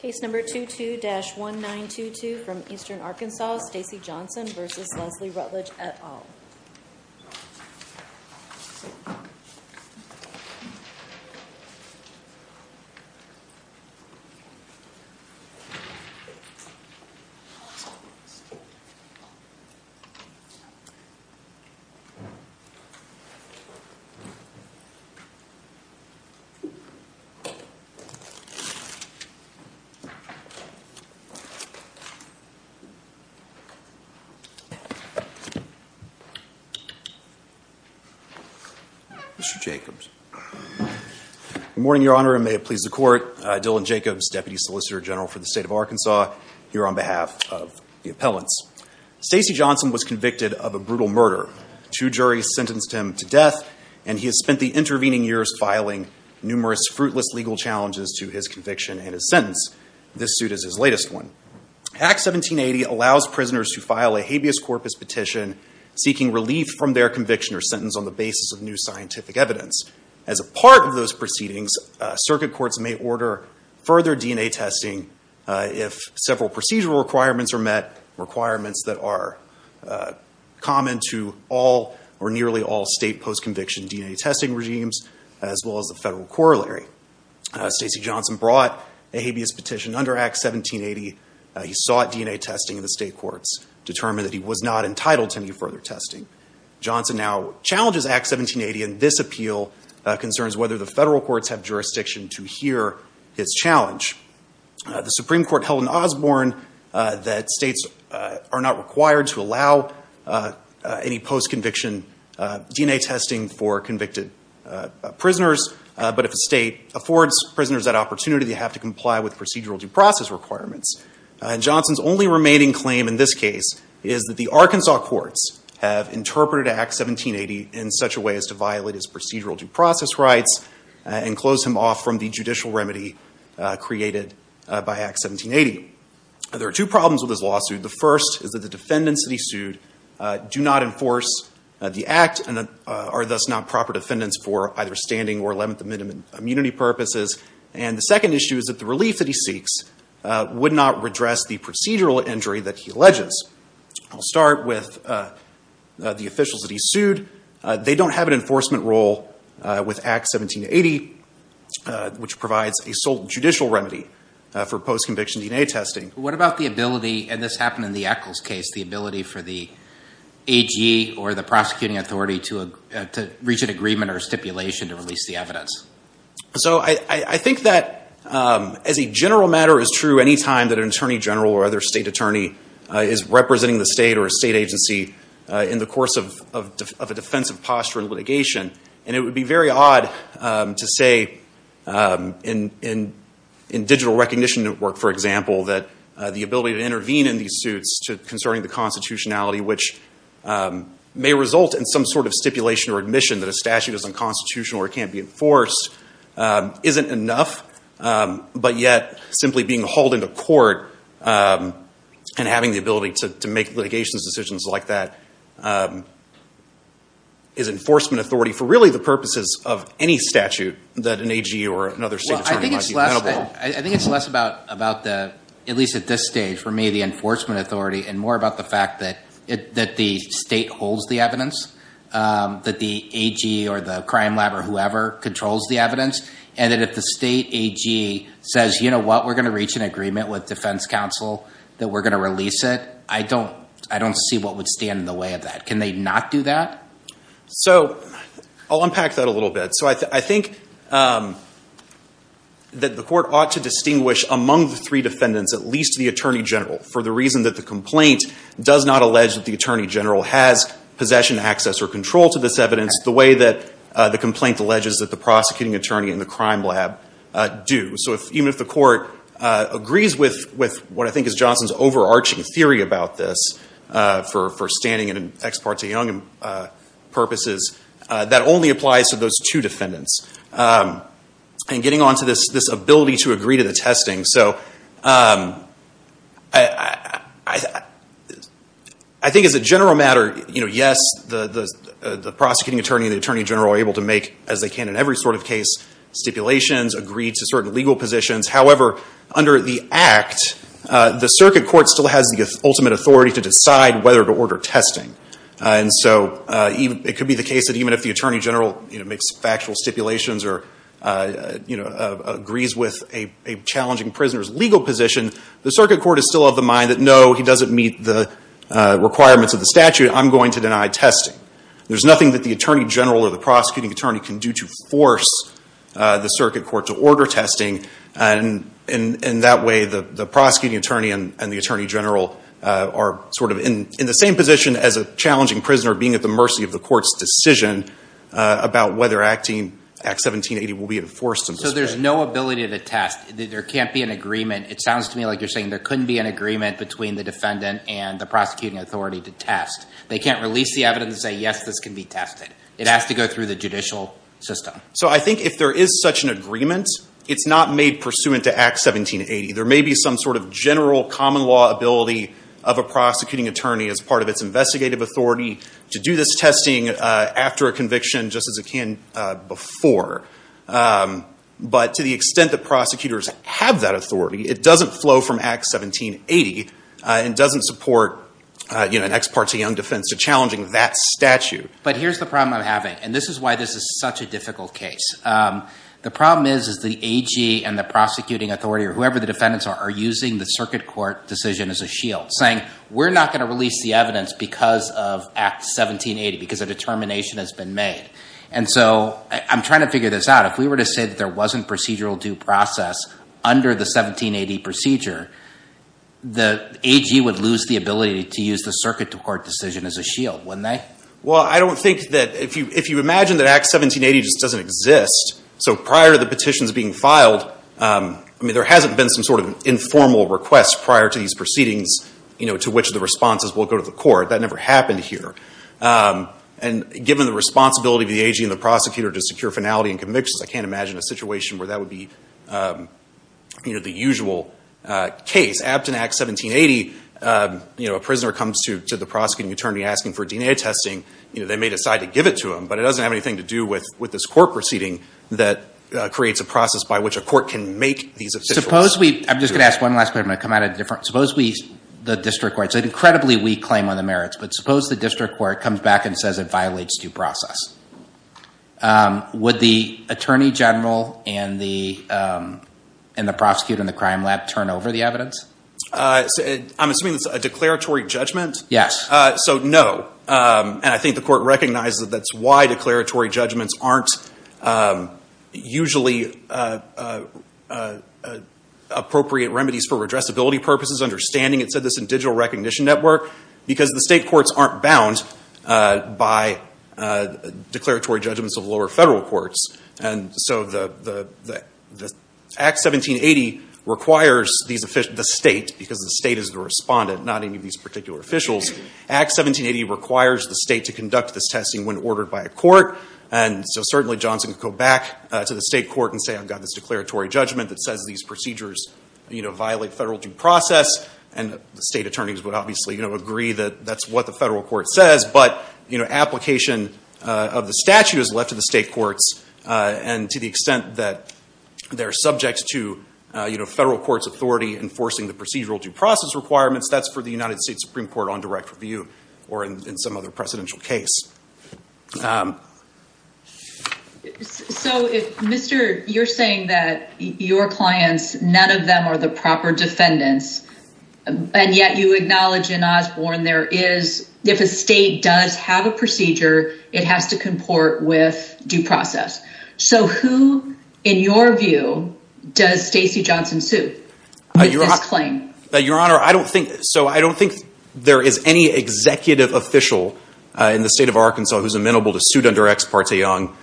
Case number 22-1922 from Eastern Arkansas, Stacey Johnson v. Leslie Rutledge, et al. Good morning, Your Honor, and may it please the Court, Dylan Jacobs, Deputy Solicitor General for the State of Arkansas, here on behalf of the appellants. Stacey Johnson was convicted of a brutal murder. Two juries sentenced him to death, and he has spent the intervening years filing numerous fruitless legal challenges to his conviction and his sentence. This suit is his latest one. Act 1780 allows prisoners to file a habeas corpus petition seeking relief from their conviction or sentence on the basis of new scientific evidence. As a part of those proceedings, circuit courts may order further DNA testing if several procedural requirements are met, requirements that are common to all or nearly all state post-conviction DNA testing regimes, as well as the federal corollary. Stacey Johnson brought a habeas petition under Act 1780. He sought DNA testing in the state courts, determined that he was not entitled to any further testing. Johnson now challenges Act 1780, and this appeal concerns whether the federal courts have jurisdiction to hear his challenge. The Supreme Court held in Osborne that states are not required to allow any post-conviction DNA testing for convicted prisoners, but if a state affords prisoners that opportunity, they have to comply with procedural due process requirements. Johnson's only remaining claim in this case is that the Arkansas courts have interpreted Act 1780 in such a way as to violate his procedural due process rights and close him off from the judicial remedy created by Act 1780. There are two problems with this lawsuit. The first is that the defendants that he sued do not enforce the Act and are thus not proper defendants for either standing or limit the minimum immunity purposes. And the second issue is that the relief that he seeks would not redress the procedural injury that he alleges. I'll start with the officials that he sued. They don't have an enforcement role with Act 1780, which provides a sole judicial remedy for post-conviction DNA testing. What about the ability, and this happened in the Echols case, the ability for the AG or the prosecuting authority to reach an agreement or stipulation to release the evidence? So I think that as a general matter is true any time that an attorney general or other state attorney is representing the state or a state agency in the course of a defensive posture in litigation, and it would be very odd to say in digital recognition network, for example, that the ability to intervene in these suits concerning the constitutionality, which may result in some sort of stipulation or admission that a statute is unconstitutional or can't be enforced, isn't enough. But yet, simply being hauled into court and having the ability to make litigation decisions like that is enforcement authority for really the purposes of any statute that an AG or another state attorney might be available. I think it's less about, at least at this stage, for me, the enforcement authority and more about the fact that the state holds the evidence, that the AG or the crime lab or whoever controls the evidence, and that if the state AG says, you know what, we're going to reach an agreement with defense counsel that we're going to release it, I don't see what would stand in the way of that. Can they not do that? So I'll unpack that a little bit. So I think that the court ought to distinguish among the three defendants, at least the attorney general, for the reason that the complaint does not allege that the attorney general has possession, access, or control to this evidence the way that the complaint alleges that the prosecuting attorney and the crime lab do. So even if the court agrees with what I think is Johnson's overarching theory about this for standing and ex parte young purposes, that only applies to those two defendants. And getting on to this ability to agree to the testing. So I think as a general matter, yes, the prosecuting attorney and the attorney general are able to make, as they can in every sort of case, stipulations, agree to certain legal positions. However, under the act, the circuit court still has the ultimate authority to decide whether to order testing. And so it could be the case that even if the attorney general makes factual stipulations or agrees with a challenging prisoner's legal position, the circuit court is still of the mind that no, he doesn't meet the requirements of the statute, I'm going to deny testing. There's nothing that the attorney general or the prosecuting attorney can do to force the circuit court to order testing. And that way, the prosecuting attorney and the attorney general are sort of in the same position as a challenging prisoner, being at the mercy of the court's decision about whether Act 1780 will be enforced in this case. So there's no ability to test. There can't be an agreement. It sounds to me like you're saying there couldn't be an agreement between the defendant and the prosecuting authority to test. They can't release the evidence and say, yes, this can be tested. It has to go through the judicial system. So I think if there is such an agreement, it's not made pursuant to Act 1780. There may be some sort of general common law ability of a prosecuting attorney as part of its investigative authority to do this testing after a conviction, just as it can before. But to the extent that prosecutors have that authority, it doesn't flow from Act 1780 and doesn't support an ex parte young defense to challenging that statute. But here's the problem I'm having. And this is why this is such a difficult case. The problem is the AG and the prosecuting authority, or whoever the defendants are, are using the circuit court decision as a shield, saying we're not going to release the evidence because of Act 1780, because a determination has been made. And so I'm trying to figure this out. If we were to say that there wasn't procedural due process under the 1780 procedure, the AG would lose the ability to use the circuit court decision as a shield, wouldn't they? Well, I don't think that if you imagine that Act 1780 just doesn't exist. So prior to the petitions being filed, there hasn't been some sort of informal request prior to these proceedings to which the responses will go to the court. That never happened here. And given the responsibility of the AG and the prosecutor to secure finality and convictions, I can't imagine a situation where that would be the usual case. Since Abt in Act 1780, a prisoner comes to the prosecuting attorney asking for DNA testing, they may decide to give it to him. But it doesn't have anything to do with this court proceeding that creates a process by which a court can make these decisions. I'm just going to ask one last question. I'm going to come at it differently. Suppose the district court, it's an incredibly weak claim on the merits, but suppose the district court comes back and says it violates due process. Would the attorney general and the prosecutor in the crime lab turn over the evidence? I'm assuming it's a declaratory judgment? Yes. So no. And I think the court recognizes that that's why declaratory judgments aren't usually appropriate remedies for redressability purposes. Understanding it said this in Digital Recognition Network, because the state courts aren't bound by declaratory judgments of lower federal courts. And so Act 1780 requires the state, because the state is the respondent, not any of these particular officials. Act 1780 requires the state to conduct this testing when ordered by a court. And so certainly Johnson could go back to the state court and say, I've got this declaratory judgment that says these procedures violate federal due process. And the state attorneys would obviously agree that that's what the federal court says. But application of the statute is left to the state courts. And to the extent that they're subject to federal court's authority enforcing the procedural due process requirements, that's for the United States Supreme Court on direct review, or in some other precedential case. So if, Mr., you're saying that your clients, none of them are the proper defendants, and yet you acknowledge in Osborne there is, if a state does have a procedure, it has to comport with due process. So who, in your view, does Stacey Johnson sue with this claim? Your Honor, I don't think, so I don't think there is any executive official in the state of Arkansas who's amenable to suit under Ex Parte Young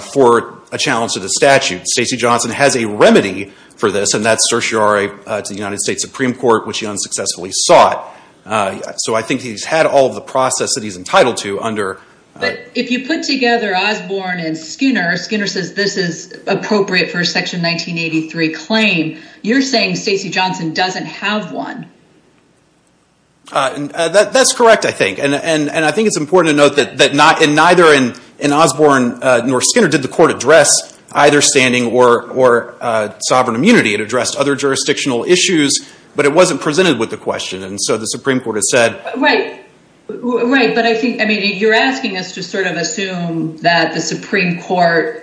for a challenge to the statute. Stacey Johnson has a remedy for this, and that's certiorari to the United States Supreme Court, which he unsuccessfully sought. So I think he's had all of the process that he's entitled to under. But if you put together Osborne and Schooner, Schooner says this is appropriate for a Section 1983 claim, you're saying Stacey Johnson doesn't have one. That's correct, I think. And I think it's important to note that neither in Osborne nor Schooner did the court address either standing or sovereign immunity. It addressed other jurisdictional issues, but it wasn't presented with the question. And so the Supreme Court has said— Right, right. But I think, I mean, you're asking us to sort of assume that the Supreme Court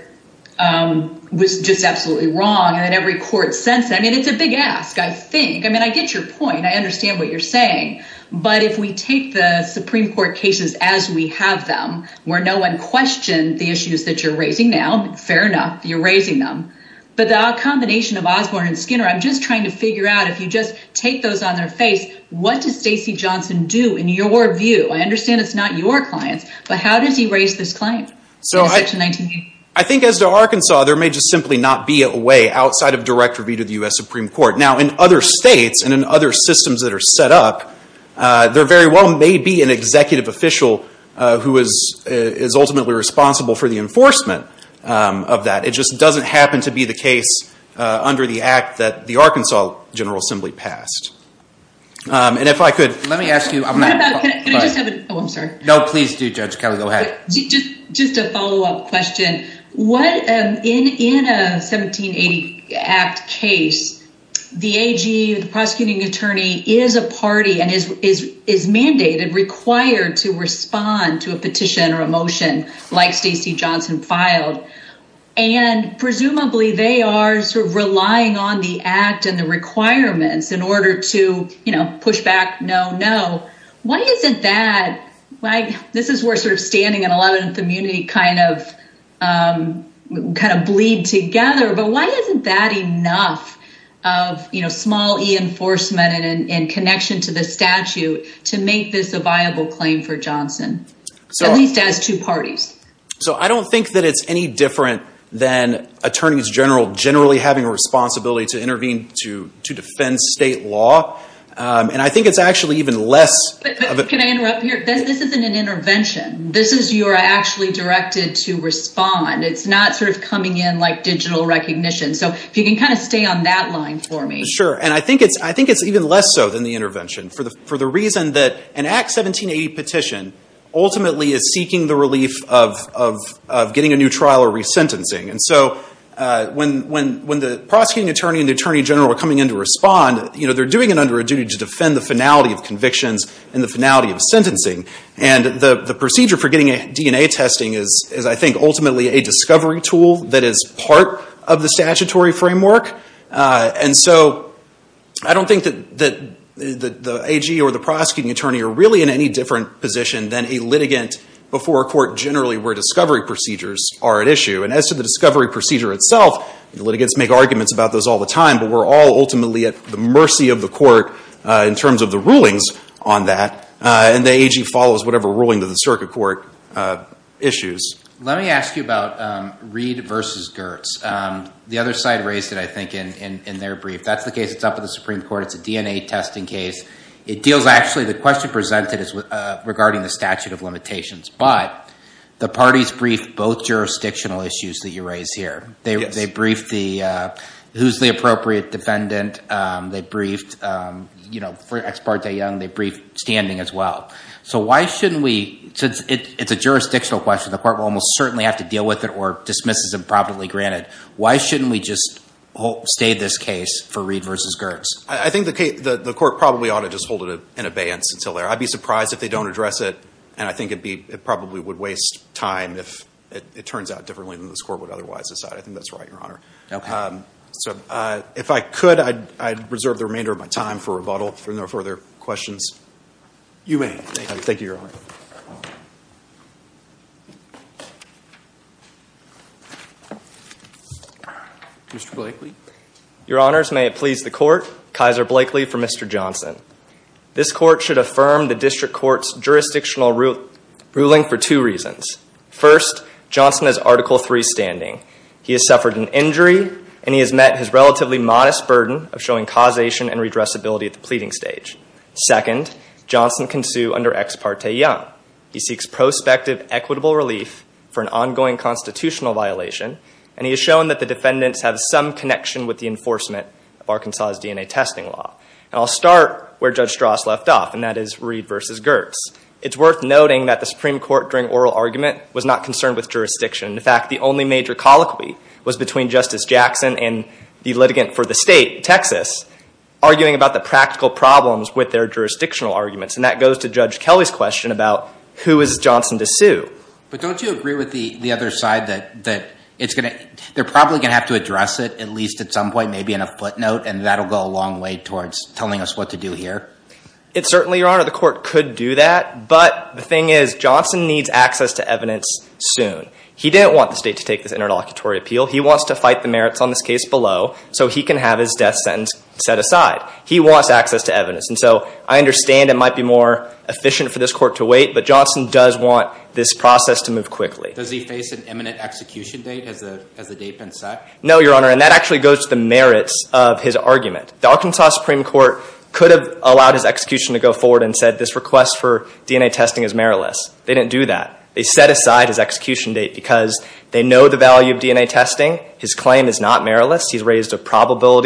was just absolutely wrong and that every court sent—I mean, it's a big ask, I think. I mean, I get your point. I understand what you're saying. But if we take the Supreme Court cases as we have them, where no one questioned the issues that you're raising now—fair enough, you're raising them—but the combination of Osborne and Schooner, I'm just trying to figure out if you just take those on their face, what does Stacey Johnson do in your view? I understand it's not your clients, but how does he raise this claim in Section 1983? I think as to Arkansas, there may just simply not be a way outside of direct review to the U.S. Supreme Court. Now, in other states and in other systems that are set up, there very well may be an executive official who is ultimately responsible for the enforcement of that. It just doesn't happen to be the case under the act that the Arkansas General Assembly passed. And if I could— Let me ask you— Can I just have a—oh, I'm sorry. No, please do, Judge Kelly. Go ahead. Just a follow-up question. In a 1780 Act case, the AG, the prosecuting attorney, is a party and is mandated, required to respond to a petition or a motion like Stacey Johnson filed. And presumably, they are sort of relying on the Act and the requirements in order to, you know, push back, no, no. Why is it that—this is where sort of standing and 11th immunity kind of bleed together, but why isn't that enough of, you know, small e-enforcement in connection to the statute to make this a viable claim for Johnson, at least as two parties? So, I don't think that it's any different than attorneys general generally having a responsibility to intervene to defend state law. And I think it's actually even less— Can I interrupt here? This isn't an intervention. This is you are actually directed to respond. It's not sort of coming in like digital recognition. So, if you can kind of stay on that line for me. Sure. And I think it's even less so than the intervention for the reason that an Act 1780 petition ultimately is seeking the relief of getting a new trial or resentencing. And so, when the prosecuting attorney and the attorney general are coming in to respond, you know, they're doing it under a duty to defend the finality of convictions and the finality of sentencing. And the procedure for getting a DNA testing is, I think, ultimately a discovery tool that is part of the statutory framework. And so, I don't think that the AG or the prosecuting attorney are really in any different position than a litigant before a court generally where discovery procedures are at issue. And as to the discovery procedure itself, litigants make arguments about those all the time, but we're all ultimately at the mercy of the court in terms of the rulings on that. And the AG follows whatever ruling to the circuit court issues. Let me ask you about Reed versus Gertz. The other side raised it, I think, in their brief. That's the case that's up at the Supreme Court. It's a DNA testing case. It deals actually, the question presented is regarding the statute of limitations. But the parties briefed both jurisdictional issues that you raised here. They briefed who's the appropriate defendant. They briefed, you know, for Ex parte Young, they briefed standing as well. So why shouldn't we, since it's a jurisdictional question, the court will almost certainly have to deal with it or dismiss it as improperly granted. Why shouldn't we just stay this case for Reed versus Gertz? I think the court probably ought to just hold it in abeyance until there. I'd be surprised if they don't address it, and I think it probably would waste time if it turns out differently than this court would otherwise decide. I think that's right, Your Honor. So if I could, I'd reserve the remainder of my time for rebuttal. If there are no further questions, you may. Thank you, Your Honor. Mr. Blakely. Your Honors, may it please the court, Kaiser Blakely for Mr. Johnson. This court should affirm the district court's jurisdictional ruling for two reasons. First, Johnson is Article III standing. He has suffered an injury, and he has met his relatively modest burden of showing causation and redressability at the pleading stage. Second, Johnson can sue under Ex parte Young. He seeks prospective equitable relief for an ongoing constitutional violation, and he has shown that the defendants have some connection with the enforcement of Arkansas' DNA testing law. And I'll start where Judge Strauss left off, and that is Reed versus Gertz. It's worth noting that the Supreme Court during oral argument was not concerned with jurisdiction. In fact, the only major colloquy was between Justice Jackson and the litigant for the state, Texas, arguing about the practical problems with their jurisdictional arguments, and that goes to Judge Kelly's question about who is Johnson to sue. But don't you agree with the other side that they're probably going to have to address it at least at some point, maybe in a footnote, and that will go a long way towards telling us what to do here? It certainly, Your Honor, the court could do that. But the thing is Johnson needs access to evidence soon. He didn't want the state to take this interlocutory appeal. He wants to fight the merits on this case below so he can have his death sentence set aside. He wants access to evidence. And so I understand it might be more efficient for this court to wait, but Johnson does want this process to move quickly. Does he face an imminent execution date? Has the date been set? No, Your Honor, and that actually goes to the merits of his argument. The Arkansas Supreme Court could have allowed his execution to go forward and said this request for DNA testing is meritless. They didn't do that. They set aside his execution date because they know the value of DNA testing. His claim is not meritless. He's raised a probable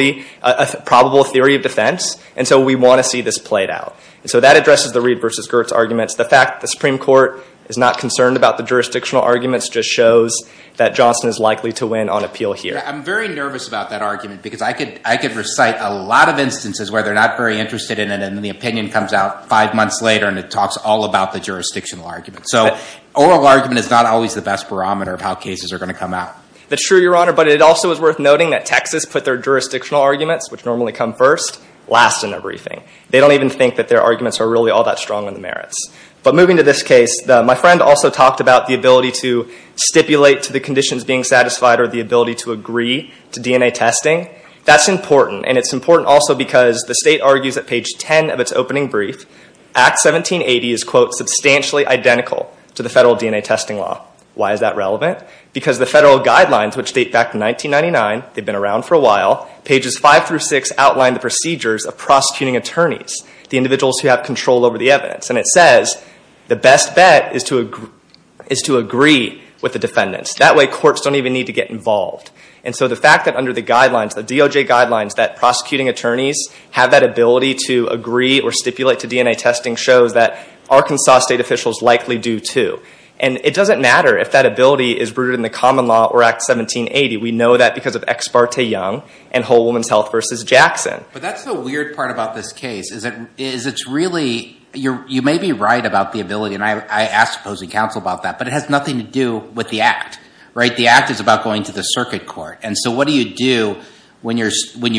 theory of defense, and so we want to see this played out. And so that addresses the Reed v. Gertz arguments. The fact the Supreme Court is not concerned about the jurisdictional arguments just shows that Johnson is likely to win on appeal here. I'm very nervous about that argument because I could recite a lot of instances where they're not very interested in it, and the opinion comes out five months later and it talks all about the jurisdictional argument. So oral argument is not always the best barometer of how cases are going to come out. That's true, Your Honor, but it also is worth noting that Texas put their jurisdictional arguments, which normally come first, last in their briefing. They don't even think that their arguments are really all that strong on the merits. But moving to this case, my friend also talked about the ability to stipulate to the conditions being satisfied or the ability to agree to DNA testing. That's important, and it's important also because the state argues at page 10 of its opening brief, Act 1780 is, quote, substantially identical to the federal DNA testing law. Why is that relevant? Because the federal guidelines, which date back to 1999, they've been around for a while, pages 5 through 6 outline the procedures of prosecuting attorneys, the individuals who have control over the evidence. And it says the best bet is to agree with the defendants. That way courts don't even need to get involved. And so the fact that under the guidelines, the DOJ guidelines, that prosecuting attorneys have that ability to agree or stipulate to DNA testing shows that Arkansas state officials likely do, too. And it doesn't matter if that ability is rooted in the common law or Act 1780. We know that because of Ex Parte Young and Whole Woman's Health v. Jackson. But that's the weird part about this case is it's really, you may be right about the ability, and I asked opposing counsel about that, but it has nothing to do with the Act. The Act is about going to the circuit court. And so what do you do when you're – should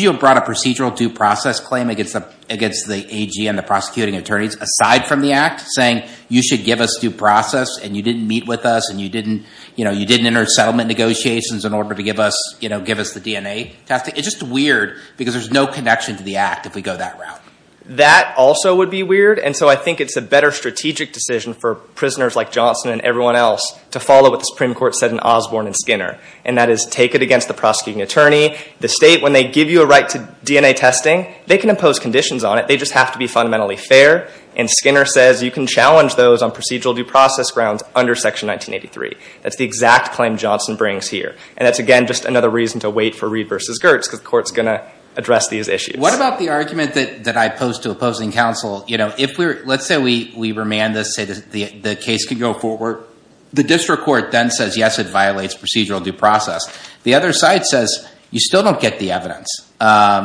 you have brought a procedural due process claim against the AG and the prosecuting attorneys aside from the Act, saying you should give us due process and you didn't meet with us and you didn't enter settlement negotiations in order to give us the DNA testing? It's just weird because there's no connection to the Act if we go that route. That also would be weird. And so I think it's a better strategic decision for prisoners like Johnson and everyone else to follow what the Supreme Court said in Osborne and Skinner, and that is take it against the prosecuting attorney. The state, when they give you a right to DNA testing, they can impose conditions on it. They just have to be fundamentally fair. And Skinner says you can challenge those on procedural due process grounds under Section 1983. That's the exact claim Johnson brings here. And that's, again, just another reason to wait for Reed v. Gertz because the court's going to address these issues. What about the argument that I posed to opposing counsel? Let's say we remand this, say the case can go forward. The district court then says, yes, it violates procedural due process. The other side says you still don't get the evidence.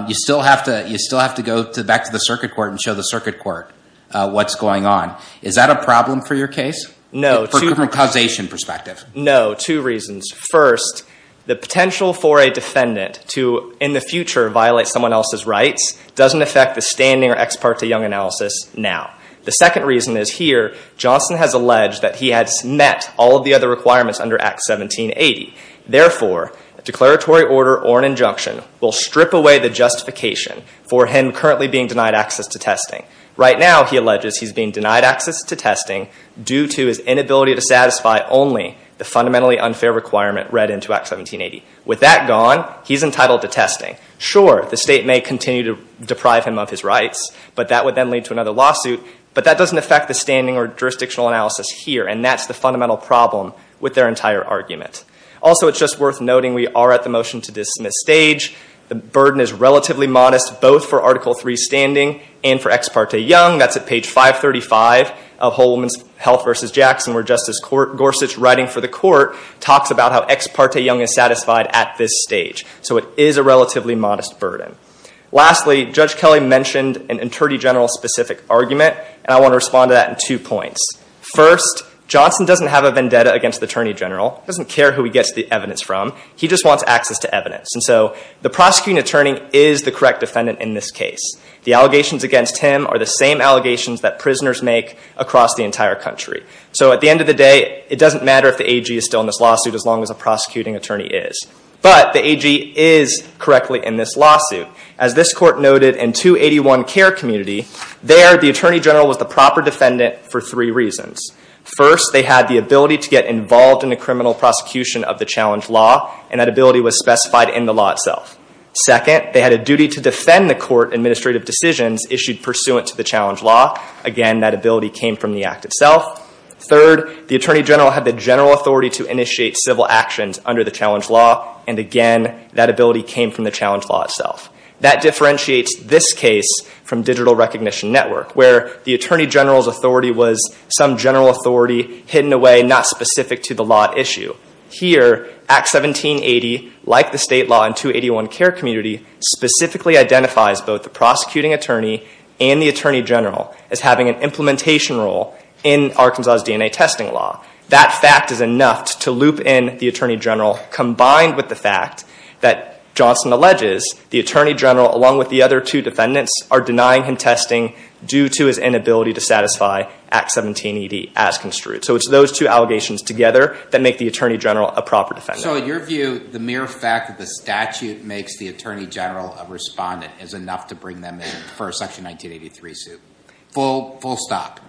You still have to go back to the circuit court and show the circuit court what's going on. Is that a problem for your case from a causation perspective? No, two reasons. First, the potential for a defendant to in the future violate someone else's rights doesn't affect the standing or ex parte Young analysis now. The second reason is here Johnson has alleged that he has met all of the other requirements under Act 1780. Therefore, a declaratory order or an injunction will strip away the justification for him currently being denied access to testing. Right now, he alleges he's being denied access to testing due to his inability to satisfy only the fundamentally unfair requirement read into Act 1780. With that gone, he's entitled to testing. Sure, the state may continue to deprive him of his rights. But that would then lead to another lawsuit. But that doesn't affect the standing or jurisdictional analysis here. And that's the fundamental problem with their entire argument. Also, it's just worth noting we are at the motion to dismiss stage. The burden is relatively modest both for Article III standing and for ex parte Young. That's at page 535 of Whole Woman's Health v. Jackson where Justice Gorsuch, writing for the court, talks about how ex parte Young is satisfied at this stage. So it is a relatively modest burden. Lastly, Judge Kelly mentioned an Attorney General specific argument. And I want to respond to that in two points. First, Johnson doesn't have a vendetta against the Attorney General. He doesn't care who he gets the evidence from. He just wants access to evidence. And so the prosecuting attorney is the correct defendant in this case. The allegations against him are the same allegations that prisoners make across the entire country. So at the end of the day, it doesn't matter if the AG is still in this lawsuit as long as the prosecuting attorney is. But the AG is correctly in this lawsuit. As this court noted in 281 Care Community, there the Attorney General was the proper defendant for three reasons. First, they had the ability to get involved in the criminal prosecution of the challenge law, and that ability was specified in the law itself. Second, they had a duty to defend the court administrative decisions issued pursuant to the challenge law. Again, that ability came from the act itself. Third, the Attorney General had the general authority to initiate civil actions under the challenge law, and again, that ability came from the challenge law itself. That differentiates this case from Digital Recognition Network, where the Attorney General's authority was some general authority hidden away, not specific to the law at issue. Here, Act 1780, like the state law in 281 Care Community, specifically identifies both the prosecuting attorney and the Attorney General as having an implementation role in Arkansas' DNA testing law. That fact is enough to loop in the Attorney General, combined with the fact that Johnson alleges the Attorney General, along with the other two defendants, are denying him testing due to his inability to satisfy Act 1780 as construed. So it's those two allegations together that make the Attorney General a proper defendant. So in your view, the mere fact that the statute makes the Attorney General a respondent is enough to bring them in for a Section 1983 suit. Full stop.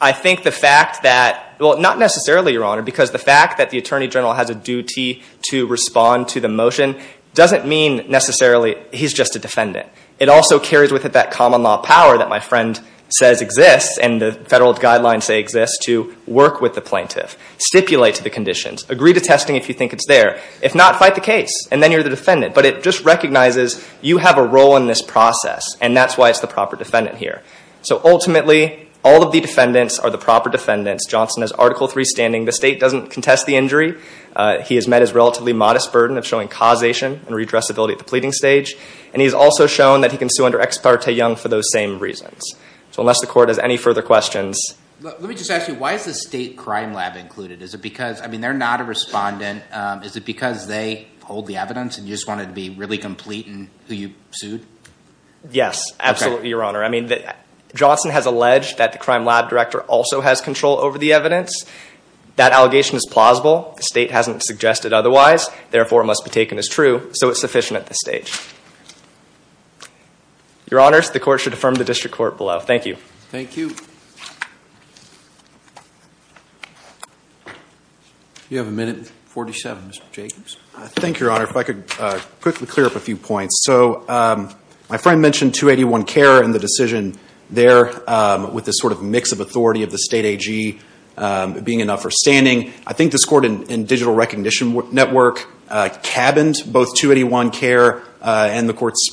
I think the fact that—well, not necessarily, Your Honor, because the fact that the Attorney General has a duty to respond to the motion doesn't mean necessarily he's just a defendant. It also carries with it that common law power that my friend says exists, and the federal guidelines say exists, to work with the plaintiff, stipulate to the conditions, agree to testing if you think it's there. If not, fight the case, and then you're the defendant. But it just recognizes you have a role in this process, and that's why it's the proper defendant here. So ultimately, all of the defendants are the proper defendants. Johnson has Article III standing. The state doesn't contest the injury. He has met his relatively modest burden of showing causation and redressability at the pleading stage, and he has also shown that he can sue under Ex Parte Young for those same reasons. So unless the Court has any further questions— Let me just ask you, why is the state crime lab included? Is it because—I mean, they're not a respondent. Is it because they hold the evidence and you just wanted to be really complete in who you sued? Yes, absolutely, Your Honor. I mean, Johnson has alleged that the crime lab director also has control over the evidence. That allegation is plausible. The state hasn't suggested otherwise. Therefore, it must be taken as true, so it's sufficient at this stage. Your Honors, the Court should affirm the District Court below. Thank you. Thank you. You have a minute and 47, Mr. Jacobs. Thank you, Your Honor. If I could quickly clear up a few points. So my friend mentioned 281 Care and the decision there with this sort of mix of authority of the state AG being enough for standing. I think this Court in Digital Recognition Network cabined both 281 Care and the Court's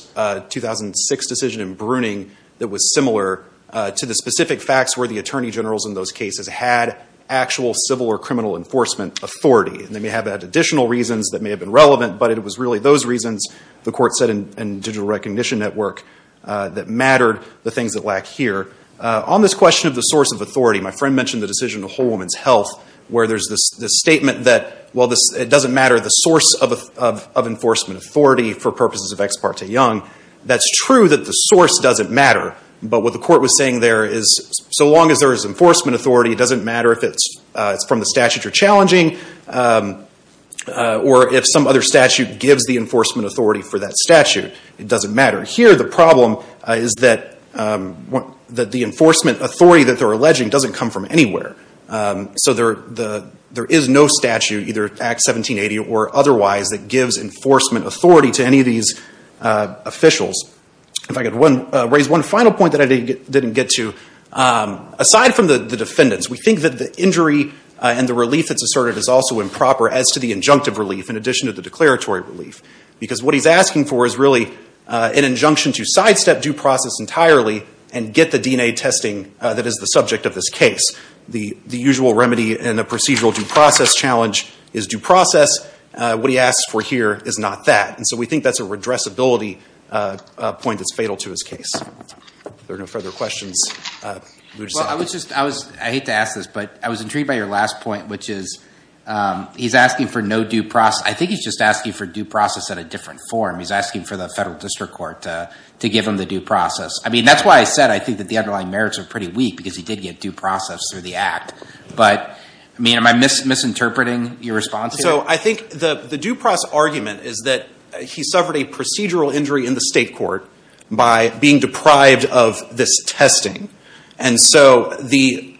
2006 decision in Bruning that was similar to the specific facts where the attorney generals in those cases had actual civil or criminal enforcement authority. And they may have had additional reasons that may have been relevant, but it was really those reasons, the Court said in Digital Recognition Network, that mattered, the things that lack here. On this question of the source of authority, my friend mentioned the decision of Whole Woman's Health where there's this statement that, well, it doesn't matter the source of enforcement authority for purposes of Ex Parte Young. That's true that the source doesn't matter, but what the Court was saying there is so long as there is enforcement authority, it doesn't matter if it's from the statute you're challenging or if some other statute gives the enforcement authority for that statute. It doesn't matter. Here the problem is that the enforcement authority that they're alleging doesn't come from anywhere. So there is no statute, either Act 1780 or otherwise, that gives enforcement authority to any of these officials. If I could raise one final point that I didn't get to. Aside from the defendants, we think that the injury and the relief that's asserted is also improper as to the injunctive relief in addition to the declaratory relief. Because what he's asking for is really an injunction to sidestep due process entirely and get the DNA testing that is the subject of this case. The usual remedy in a procedural due process challenge is due process. What he asks for here is not that. And so we think that's a redressability point that's fatal to his case. If there are no further questions. I hate to ask this, but I was intrigued by your last point, which is he's asking for no due process. I think he's just asking for due process in a different form. He's asking for the federal district court to give him the due process. I mean, that's why I said I think that the underlying merits are pretty weak because he did get due process through the Act. But, I mean, am I misinterpreting your response here? So I think the due process argument is that he suffered a procedural injury in the state court by being deprived of this testing. And so the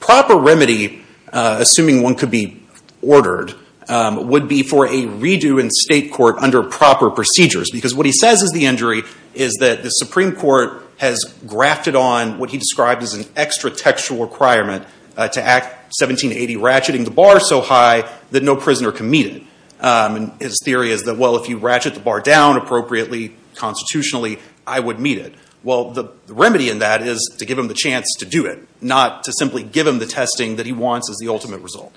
proper remedy, assuming one could be ordered, would be for a redo in state court under proper procedures. Because what he says is the injury is that the Supreme Court has grafted on what he described as an extra textual requirement to Act 1780, ratcheting the bar so high that no prisoner can meet it. And his theory is that, well, if you ratchet the bar down appropriately, constitutionally, I would meet it. Well, the remedy in that is to give him the chance to do it, not to simply give him the testing that he wants as the ultimate result.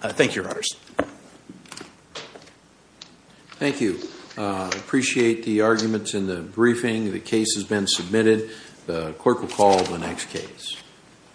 Thank you, Your Honors. Thank you. I appreciate the arguments in the briefing. The case has been submitted. The clerk will call the next case.